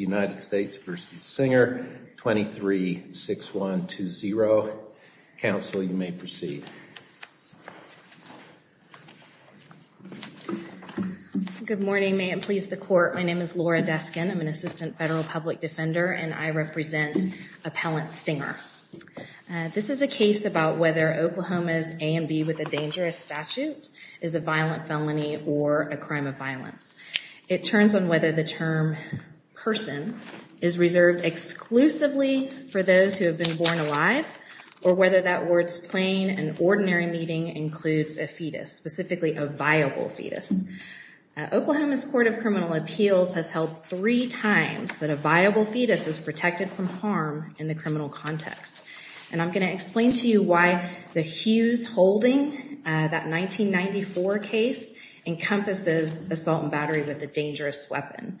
United States v. Singer 23-6120. Council, you may proceed. Good morning, may it please the court. My name is Laura Deskin. I'm an assistant federal public defender and I represent Appellant Singer. This is a case about whether Oklahoma's A&B with a dangerous statute is a violent felony or a crime of violence. It turns on whether the term person is reserved exclusively for those who have been born alive or whether that word's plain and ordinary meaning includes a fetus, specifically a viable fetus. Oklahoma's Court of Criminal Appeals has held three times that a viable fetus is protected from harm in the criminal context. And I'm going to explain to you why the Hughes holding that 1994 case encompasses assault and battery with a dangerous weapon.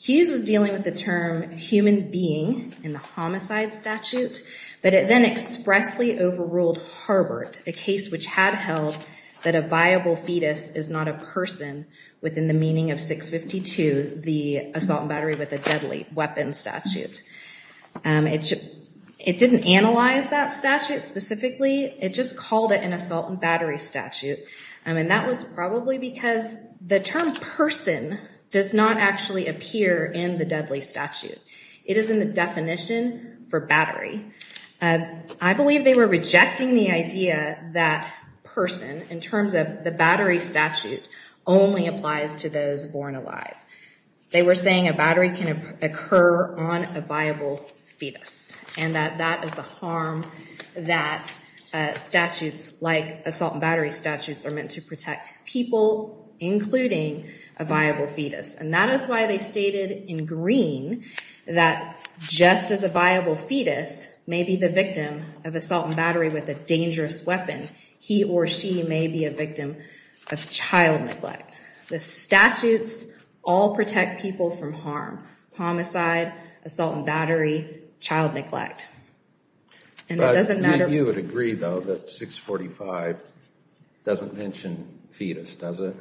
Hughes was dealing with the term human being in the homicide statute, but it then expressly overruled Harbert, a case which had held that a viable fetus is not a person within the meaning of 652, the assault and battery with a deadly weapon statute. It didn't analyze that statute specifically. It just called it an assault and battery. The term person does not actually appear in the deadly statute. It is in the definition for battery. I believe they were rejecting the idea that person in terms of the battery statute only applies to those born alive. They were saying a battery can occur on a viable fetus and that that is the harm that statutes like assault and battery statutes are meant to protect people, including a viable fetus. And that is why they stated in green that just as a viable fetus may be the victim of assault and battery with a dangerous weapon, he or she may be a victim of child neglect. The statutes all protect people from harm. Homicide, assault and battery, child neglect. You would agree though that 645 doesn't mention fetus, does it?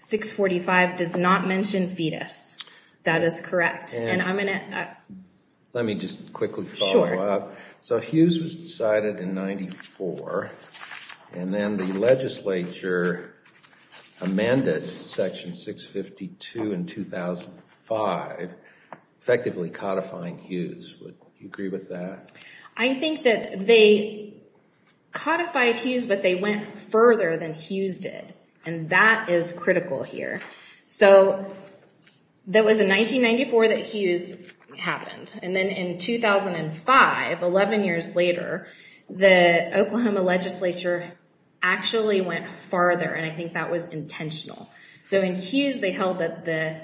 645 does not mention fetus. That is correct. Let me just quickly follow up. So Hughes was decided in 94 and then the legislature amended section 652 in 2005 effectively codifying Hughes. Would you agree with that? I think that they codified Hughes but they went further than Hughes did and that is critical here. So that was in 1994 that Hughes happened and then in 2005, 11 years later, the Oklahoma legislature actually went farther and I think that was intentional. So in Hughes they held that the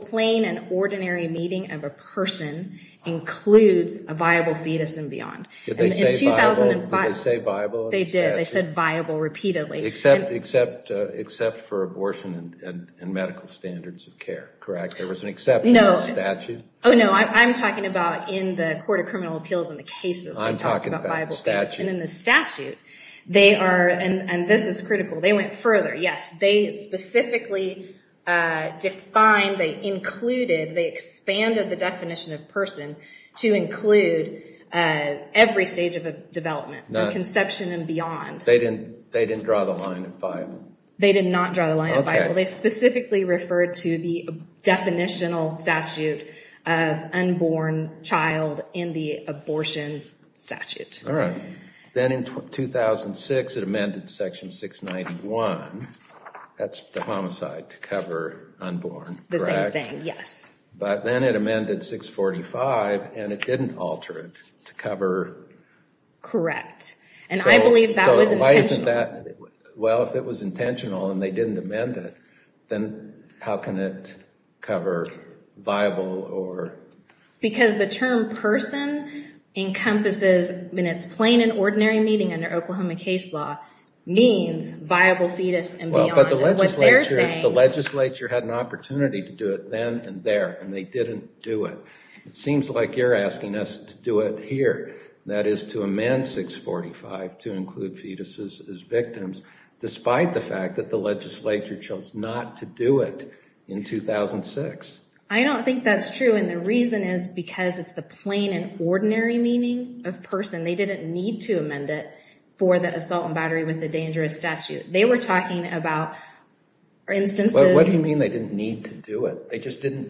plain and ordinary meeting of a person includes a viable fetus and beyond. Did they say viable? They did. They said viable repeatedly. Except for abortion and medical standards of care, correct? There was an exception in the statute? Oh no, I'm talking about in the Court of Criminal Appeals and the cases. I'm talking about the statute. And in the statute, they are, and this is critical, they went further. Yes, they specifically defined, they included, they expanded the definition of person to include every stage of a development from conception and beyond. They didn't draw the line of viable? They did not draw the line of viable. They specifically referred to the definitional statute of unborn child in the abortion statute. All right. Then in 2006, it amended section 691, that's the homicide to cover unborn, correct? The same thing, yes. But then it amended 645 and it didn't alter it to cover... then how can it cover viable or... Because the term person encompasses, in its plain and ordinary meeting under Oklahoma case law, means viable fetus and beyond. But the legislature had an opportunity to do it then and there and they didn't do it. It seems like you're asking us to do it that is to amend 645 to include fetuses as victims despite the fact that the legislature chose not to do it in 2006. I don't think that's true and the reason is because it's the plain and ordinary meaning of person. They didn't need to amend it for the assault and battery with the dangerous statute. They were talking about instances... What do you mean they didn't need to do it? They just felt the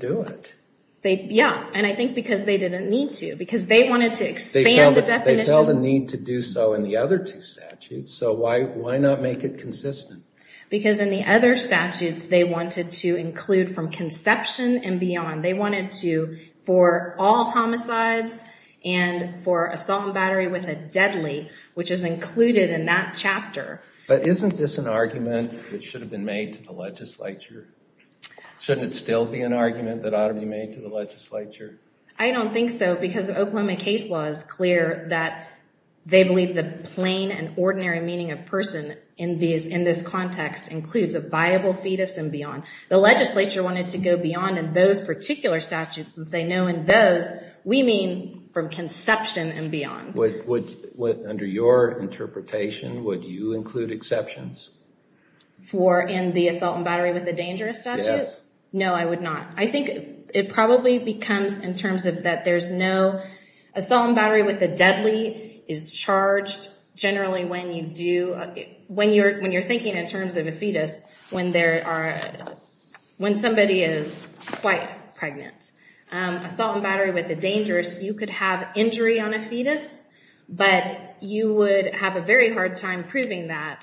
need to do so in the other two statutes. So why not make it consistent? Because in the other statutes, they wanted to include from conception and beyond. They wanted to for all homicides and for assault and battery with a deadly, which is included in that chapter. But isn't this an argument that should have been made to the legislature? Shouldn't it still be an that they believe the plain and ordinary meaning of person in this context includes a viable fetus and beyond. The legislature wanted to go beyond in those particular statutes and say no in those we mean from conception and beyond. Under your interpretation, would you include exceptions? For in the assault and battery with a dangerous statute? Yes. No, I would not. I think it probably becomes in terms of that there's no... Assault and battery with the deadly is charged generally when you're thinking in terms of a fetus when somebody is quite pregnant. Assault and battery with the dangerous, you could have injury on a fetus, but you would have a very hard time proving that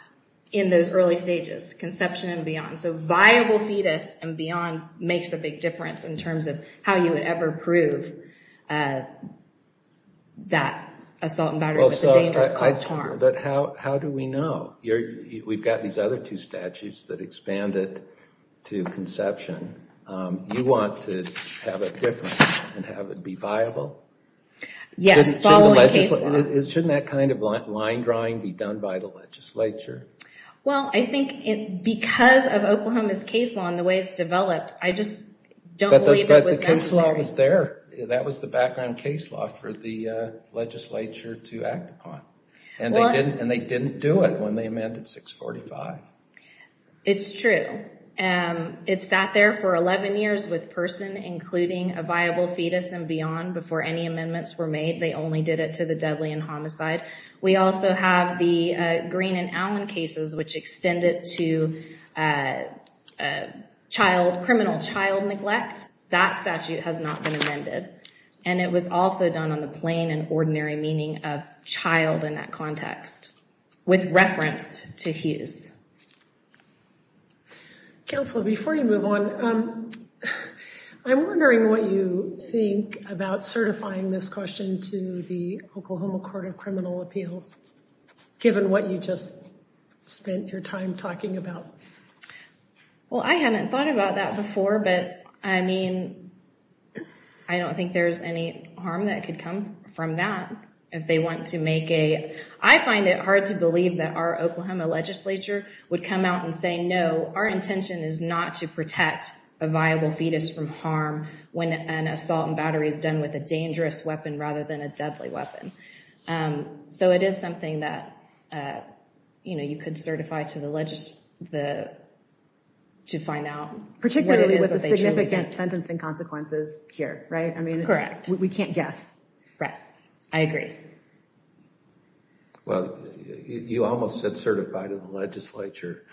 in those early stages, conception and beyond. So viable fetus and beyond makes a big difference in terms of how you would ever prove that assault and battery with a dangerous cause to harm. But how do we know? We've got these other two statutes that expand it to conception. You want to have a difference and have it be viable? Yes, following case law. Shouldn't that kind of line drawing be done by the legislature? Well, I think because of Oklahoma's case law and the way it's developed, I just don't believe it was necessary. But the case law was there. That was the background case law for the legislature to act upon. And they didn't do it when they amended 645. It's true. It sat there for 11 years with person including a viable fetus and beyond before any amendments were made. They only did it to the deadly and homicide. We also have the Green and Allen cases, which extended to criminal child neglect. That statute has not been amended. And it was also done on the plain and ordinary meaning of child in that context with reference to Hughes. Counselor, before you move on, I'm wondering what you think about certifying this question to the Oklahoma Court of Criminal Appeals, given what you just spent your time talking about? Well, I hadn't thought about that before. But I mean, I don't think there's any harm that could come from that. I find it hard to believe that our Oklahoma legislature would come out and say, no, our intention is not to protect a viable fetus from harm when an assault and battery is with a dangerous weapon rather than a deadly weapon. So it is something that, you know, you could certify to the legislature to find out. Particularly with the significant sentencing consequences here, right? I mean, correct. We can't guess. Right. I agree. Well, you almost said certify to the legislature.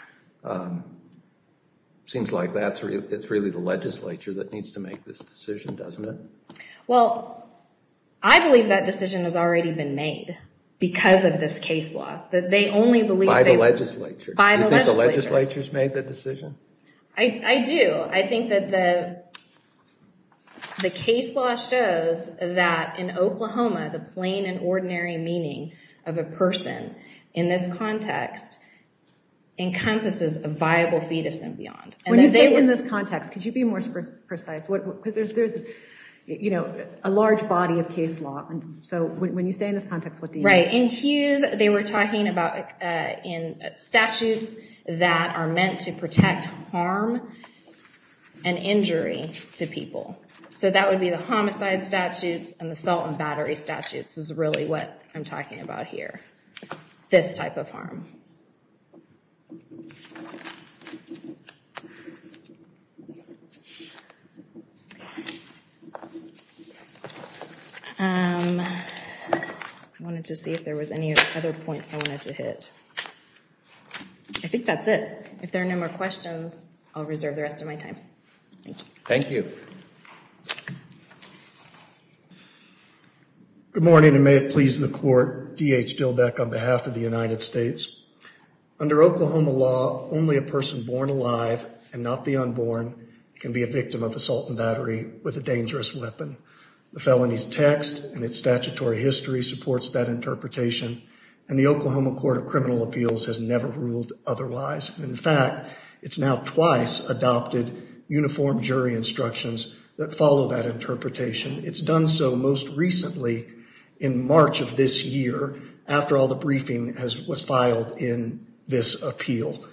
Seems like that's really the legislature that needs to make this decision, doesn't it? Well, I believe that decision has already been made because of this case law that they only believe... By the legislature. By the legislature. You think the legislature's made the decision? I do. I think that the case law shows that in Oklahoma, the plain and ordinary meaning of a person in this context encompasses a viable fetus and beyond. When you say in this context, could you be more precise? Because there's a large body of case law. So when you say in this context, what do you mean? Right. In Hughes, they were talking about in statutes that are meant to protect harm and injury to people. So that would be the homicide statutes and the assault and battery statutes is really what I'm talking about here. This type of harm. I wanted to see if there was any other points I wanted to hit. I think that's it. If there are no more questions, I'll reserve the rest of my time. Thank you. Good morning and may it please the court. DH Dillbeck on behalf of the United States. Under Oklahoma law, only a person born alive and not the unborn can be a victim of assault battery with a dangerous weapon. The felony's text and its statutory history supports that interpretation and the Oklahoma Court of Criminal Appeals has never ruled otherwise. In fact, it's now twice adopted uniform jury instructions that follow that interpretation. It's done so most recently in March of this year after all the briefing was filed in this appeal.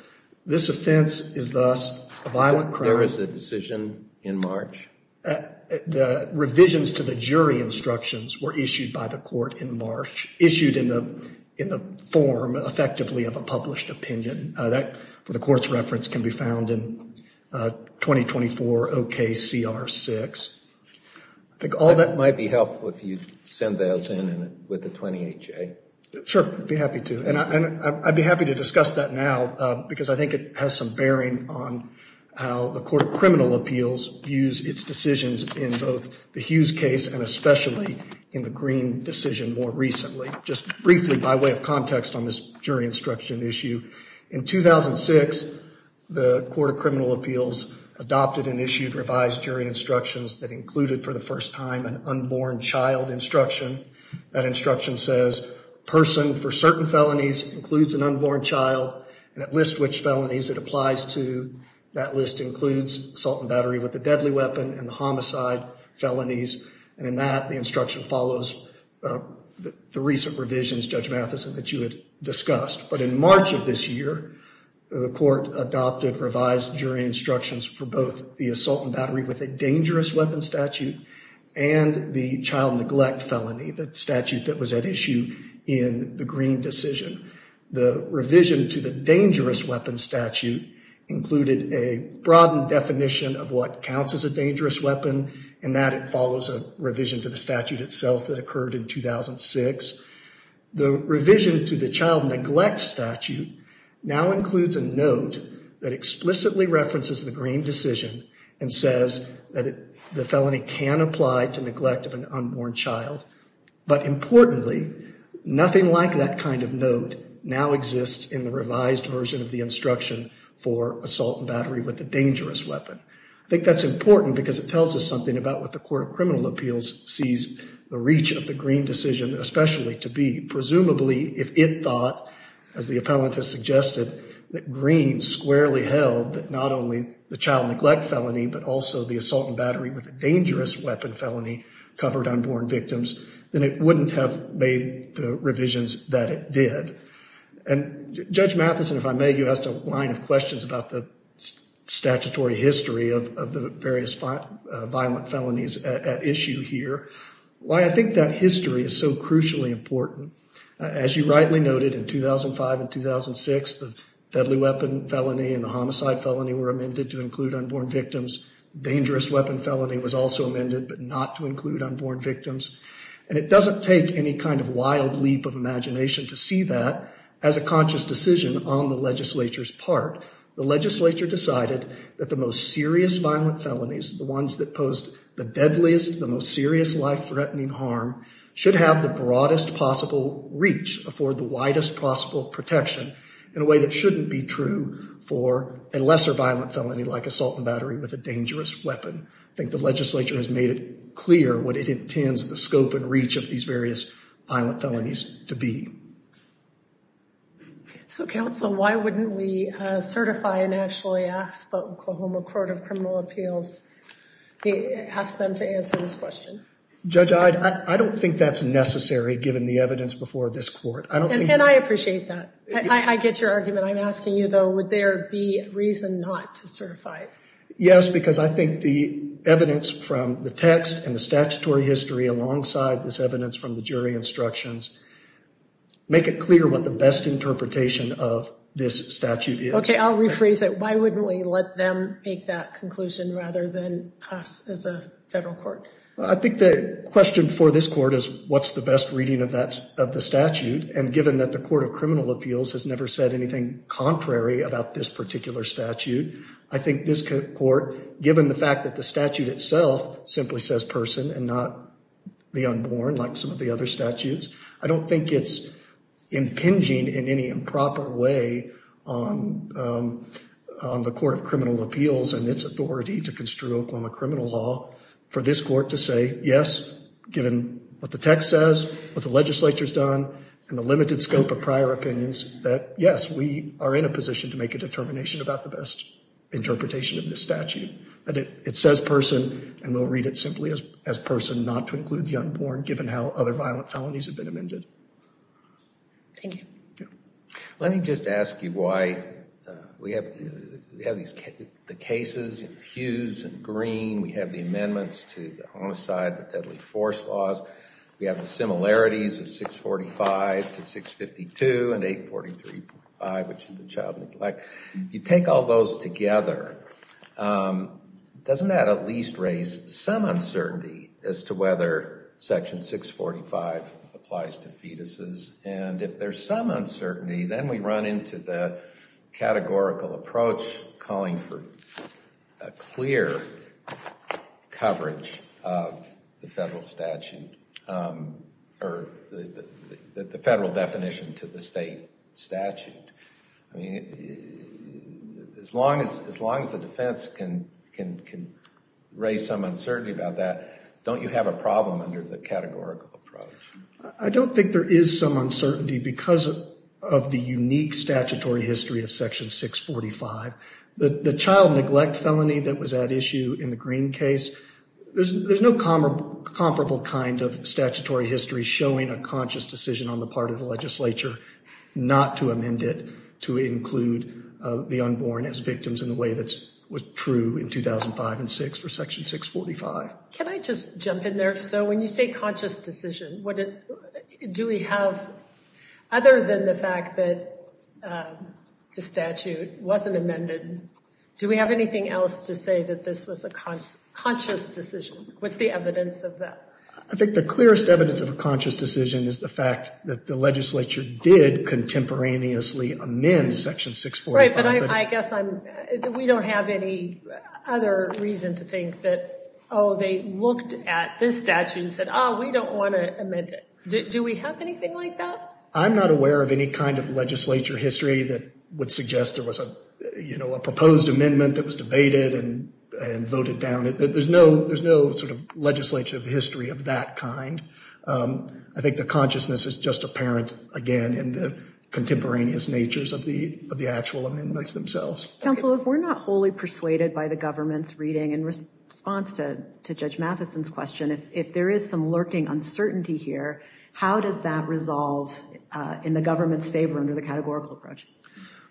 This offense is thus a violent crime. There was a decision in March. The revisions to the jury instructions were issued by the court in March, issued in the form effectively of a published opinion. That, for the court's reference, can be found in 2024 OKCR 6. I think all that might be helpful if you send those in with the 28J. Sure, I'd be happy to. And I'd be happy to discuss that now because I think it has some bearing on how the Court of Criminal Appeals views its decisions in both the Hughes case and especially in the Green decision more recently. Just briefly by way of context on this jury instruction issue, in 2006 the Court of Criminal Appeals adopted and issued revised jury instructions that included for the first time an unborn child instruction. That instruction says person for certain felonies includes an unborn child and that list which felonies it applies to, that list includes assault and battery with a deadly weapon and the homicide felonies and in that the instruction follows the recent revisions, Judge Matheson, that you had discussed. But in March of this year the Court adopted revised jury instructions for both the child neglect felony, the statute that was at issue in the Green decision. The revision to the dangerous weapons statute included a broadened definition of what counts as a dangerous weapon and that it follows a revision to the statute itself that occurred in 2006. The revision to the child neglect statute now includes a note that explicitly references the Green decision and says that the felony can apply to neglect of an unborn child but importantly nothing like that kind of note now exists in the revised version of the instruction for assault and battery with a dangerous weapon. I think that's important because it tells us something about what the Court of Criminal Appeals sees the reach of the Green decision especially to be. Presumably if it thought as the appellant has suggested that Green squarely held that not only the child neglect felony but also the assault and battery with a dangerous weapon felony covered unborn victims, then it wouldn't have made the revisions that it did. And Judge Matheson, if I may, you asked a line of questions about the statutory history of the various violent felonies at issue here. Why I rightly noted in 2005 and 2006 the deadly weapon felony and the homicide felony were amended to include unborn victims. Dangerous weapon felony was also amended but not to include unborn victims and it doesn't take any kind of wild leap of imagination to see that as a conscious decision on the legislature's part. The legislature decided that the most serious violent felonies, the ones that posed the deadliest, the most serious life-threatening harm, should have the broadest possible reach, afford the widest possible protection in a way that shouldn't be true for a lesser violent felony like assault and battery with a dangerous weapon. I think the legislature has made it clear what it intends the scope and reach of these various violent felonies to be. So counsel, why wouldn't we certify and actually ask the Oklahoma Court of Criminal Appeals, ask them to answer this question? Judge, I don't think that's necessary given the evidence before this court. And I appreciate that. I get your argument. I'm asking you though, would there be reason not to certify? Yes, because I think the evidence from the text and the statutory history alongside this evidence from the jury instructions make it clear what the best interpretation of this statute is. Okay, I'll rephrase it. Why wouldn't we let them make that conclusion rather than us as a federal court? I think the question for this court is what's the best reading of the statute? And given that the Court of Criminal Appeals has never said anything contrary about this particular statute, I think this court, given the fact that the statute itself simply says person and not the unborn like some of the other I don't think it's impinging in any improper way on the Court of Criminal Appeals and its authority to construe Oklahoma criminal law for this court to say yes, given what the text says, what the legislature's done, and the limited scope of prior opinions, that yes, we are in a position to make a determination about the best interpretation of this statute. That it says person and we'll read it simply as person not to include the unborn given how other violent felonies have been amended. Thank you. Let me just ask you why we have we have these the cases in Hughes and Green. We have the amendments to the homicide, the deadly force laws. We have the similarities of 645 to 652 and 843.5 which is the child neglect. You take all those together. Doesn't that at least raise some uncertainty as to whether section 645 applies to fetuses and if there's some uncertainty then we run into the categorical approach calling for a clear coverage of the federal statute or the federal definition to the state statute. I mean as long as as long as the defense can can can raise some uncertainty about that, don't you have a problem under the categorical approach? I don't think there is some uncertainty because of the unique statutory history of section 645. The the child neglect felony that was at issue in the Green case, there's there's no comparable kind of statutory history showing a conscious decision on to include the unborn as victims in the way that was true in 2005 and 6 for section 645. Can I just jump in there? So when you say conscious decision, what do we have other than the fact that the statute wasn't amended, do we have anything else to say that this was a conscious decision? What's the evidence of that? I think the clearest evidence of a conscious decision is the fact that the legislature did contemporaneously amend section 645. But I guess I'm we don't have any other reason to think that oh they looked at this statute and said oh we don't want to amend it. Do we have anything like that? I'm not aware of any kind of legislature history that would suggest there was a you know a proposed amendment that was debated and and voted down. There's no there's no legislative history of that kind. I think the consciousness is just apparent again in the contemporaneous natures of the of the actual amendments themselves. Counsel if we're not wholly persuaded by the government's reading in response to to Judge Matheson's question, if there is some lurking uncertainty here, how does that resolve in the government's favor under the categorical approach?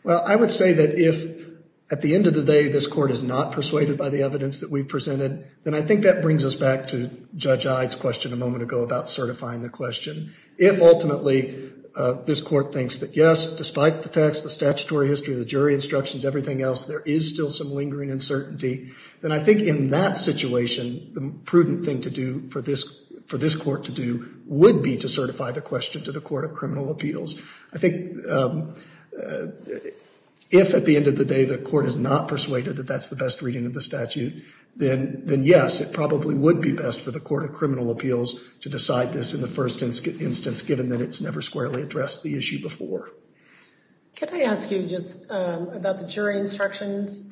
Well I would say that if at the end of the day this court is not persuaded by the evidence that we've presented, then I think that brings us back to Judge Ide's question a moment ago about certifying the question. If ultimately this court thinks that yes despite the text, the statutory history, the jury instructions, everything else there is still some lingering uncertainty, then I think in that situation the prudent thing to do for this for this court to do would be to certify the question to the court of criminal appeals. I think if at the end of the day the court is not persuaded that that's the best reading of the statute, then yes it probably would be best for the court of criminal appeals to decide this in the first instance given that it's never squarely addressed the issue before. Can I ask you just about the jury instructions?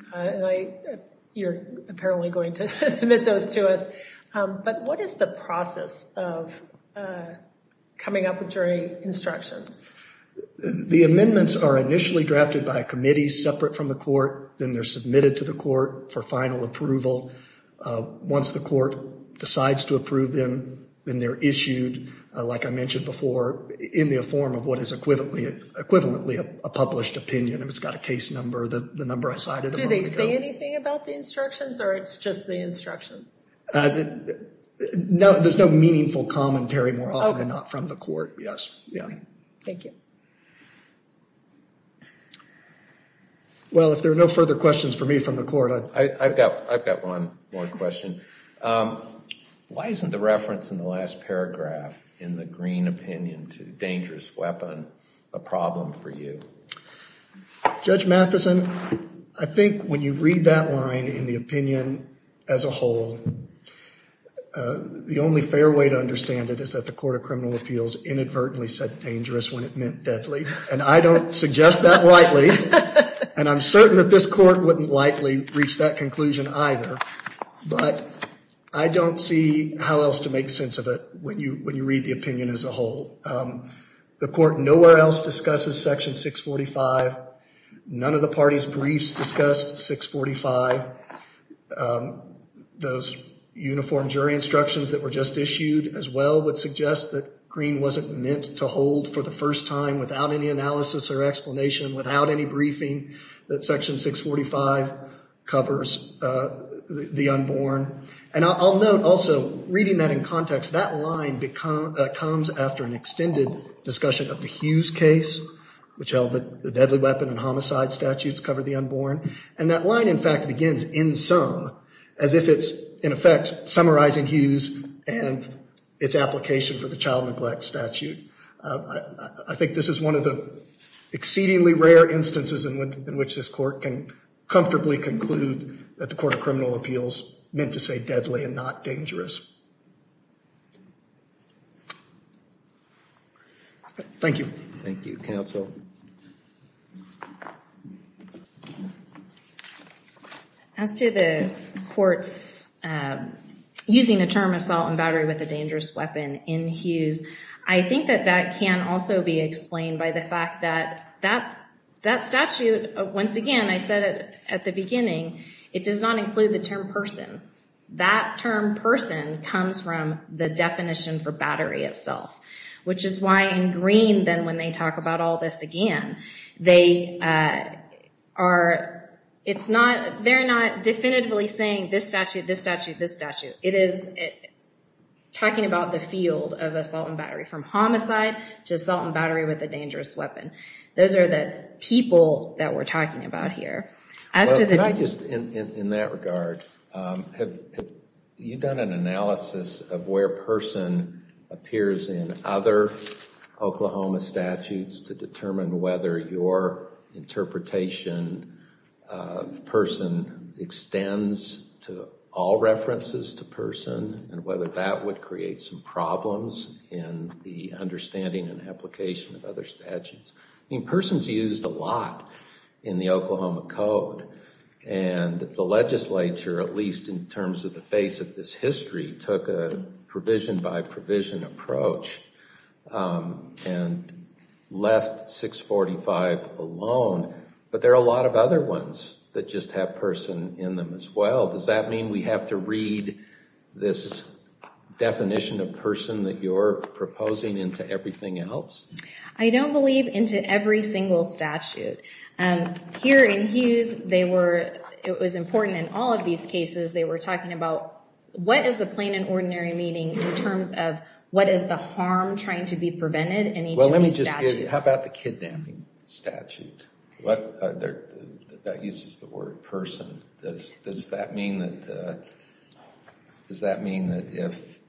You're apparently going to submit those to us, but what is the process of coming up with jury instructions? The amendments are initially drafted by a committee separate from the court, then they're submitted to the court for final approval. Once the court decides to approve them, then they're issued, like I mentioned before, in the form of what is equivalently a published opinion. It's got a case number, the number I cited. Do they say anything about the instructions or it's just the instructions? No, there's no meaningful commentary more often than not from the court. Yes, yeah. Thank you. Well, if there are no further questions for me from the court, I've got one more question. Why isn't the reference in the last paragraph in the green opinion to dangerous weapon a problem for you? Judge Matheson, I think when you read that line in the opinion as a whole, the only fair way to understand it is that the Court of Criminal Appeals inadvertently said dangerous when it meant deadly, and I don't suggest that lightly, and I'm certain that this court wouldn't likely reach that conclusion either, but I don't see how else to make sense of it when you read the opinion as a whole. The court nowhere else discusses section 645. None of the party's 645. Those uniform jury instructions that were just issued as well would suggest that Green wasn't meant to hold for the first time without any analysis or explanation, without any briefing, that section 645 covers the unborn. And I'll note also, reading that in context, that line comes after an extended discussion of the Hughes case, which held that deadly weapon and homicide statutes cover the unborn. And that line, in fact, begins in sum, as if it's, in effect, summarizing Hughes and its application for the child neglect statute. I think this is one of the exceedingly rare instances in which this court can comfortably conclude that the Court of Criminal Appeals meant to say deadly and not dangerous. Thank you. Thank you, counsel. As to the court's using the term assault and battery with a dangerous weapon in Hughes, I think that that can also be explained by the fact that that statute, once again, I said at the beginning, it does not include the term person. That term person comes from the definition for battery itself, which is why in Green, then, when they talk about all this again, they are, it's not, they're not definitively saying this statute, this statute, this statute. It is talking about the field of assault and battery from homicide to assault and battery with a dangerous weapon. In that regard, have you done an analysis of where person appears in other Oklahoma statutes to determine whether your interpretation of person extends to all references to person and whether that would create some problems in the understanding and and the legislature, at least in terms of the face of this history, took a provision by provision approach and left 645 alone. But there are a lot of other ones that just have person in them as well. Does that mean we have to read this definition of person that you're proposing into everything else? I don't believe into every single statute. Here in Hughes, they were, it was important in all of these cases, they were talking about what is the plain and ordinary meaning in terms of what is the harm trying to be prevented in each of these statutes. How about the kidnapping statute? That uses the word person. Does that mean that, does that mean that if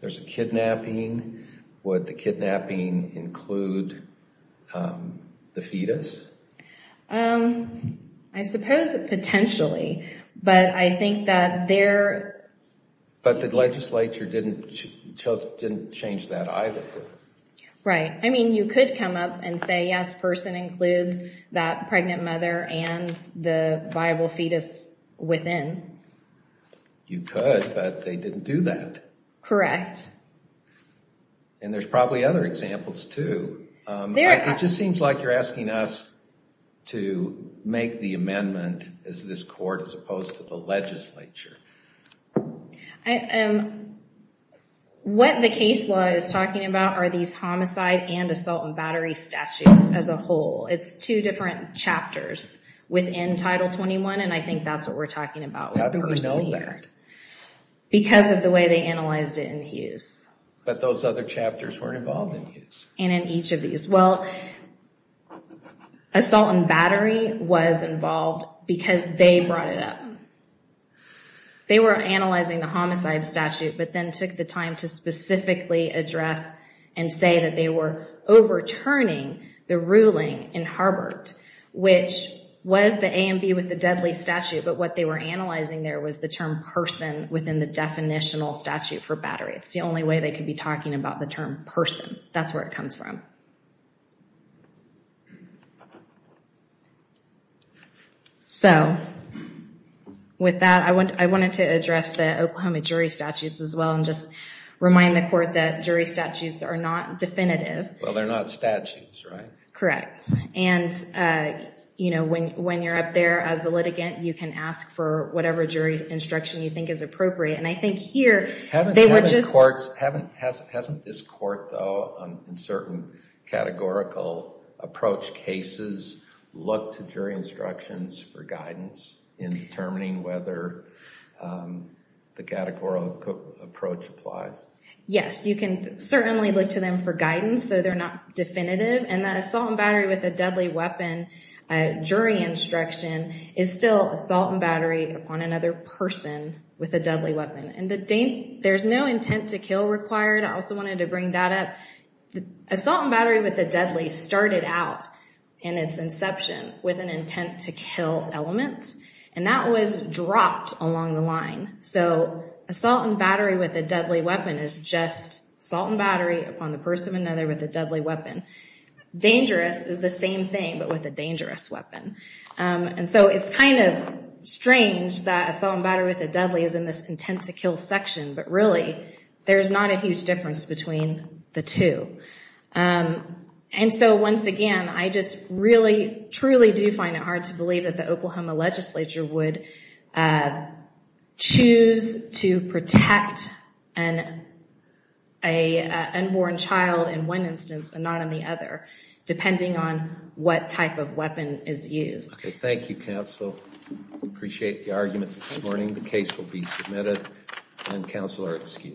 there's a kidnapping, would the kidnapping include the fetus? I suppose potentially, but I think that there... But the legislature didn't, didn't change that either. Right. I mean, you could come up and say yes, person includes that pregnant mother and the You could, but they didn't do that. Correct. And there's probably other examples too. It just seems like you're asking us to make the amendment as this court as opposed to the legislature. What the case law is talking about are these homicide and assault and battery statutes as a How do we know that? Because of the way they analyzed it in Hughes. But those other chapters weren't involved in Hughes. And in each of these. Well, assault and battery was involved because they brought it up. They were analyzing the homicide statute, but then took the time to specifically address and say that they were overturning the ruling in Harbert, which was the A and B with the deadly statute. But what they were analyzing there was the term person within the definitional statute for battery. It's the only way they could be talking about the term person. That's where it comes from. So with that, I wanted to address the Oklahoma jury statutes as well and just remind the court that jury statutes are not definitive. Well, they're not statutes, right? Correct. And, you know, when you're up there as the litigant, you can ask for whatever jury instruction you think is appropriate. And I think here, they were just... Hasn't this court, though, in certain categorical approach cases, look to jury instructions for guidance in determining whether the categorical approach applies? Yes, you can certainly look to them for guidance, though they're not definitive. And the assault and battery with a deadly weapon jury instruction is still assault and battery upon another person with a deadly weapon. And there's no intent to kill required. I also wanted to bring that up. Assault and battery with a deadly started out in its inception with an intent to kill element. And that was dropped along the line. So assault and battery with a deadly weapon is just assault and battery upon the person of another with a deadly weapon. Dangerous is the same thing, but with a dangerous weapon. And so it's kind of strange that assault and battery with a deadly is in this intent to kill section. But really, there's not a huge difference between the two. And so once again, I just really, truly do find it hard to believe that Oklahoma legislature would choose to protect an unborn child in one instance and not in the other, depending on what type of weapon is used. Thank you, counsel. Appreciate the argument this morning. The case will be submitted and counsel are excused.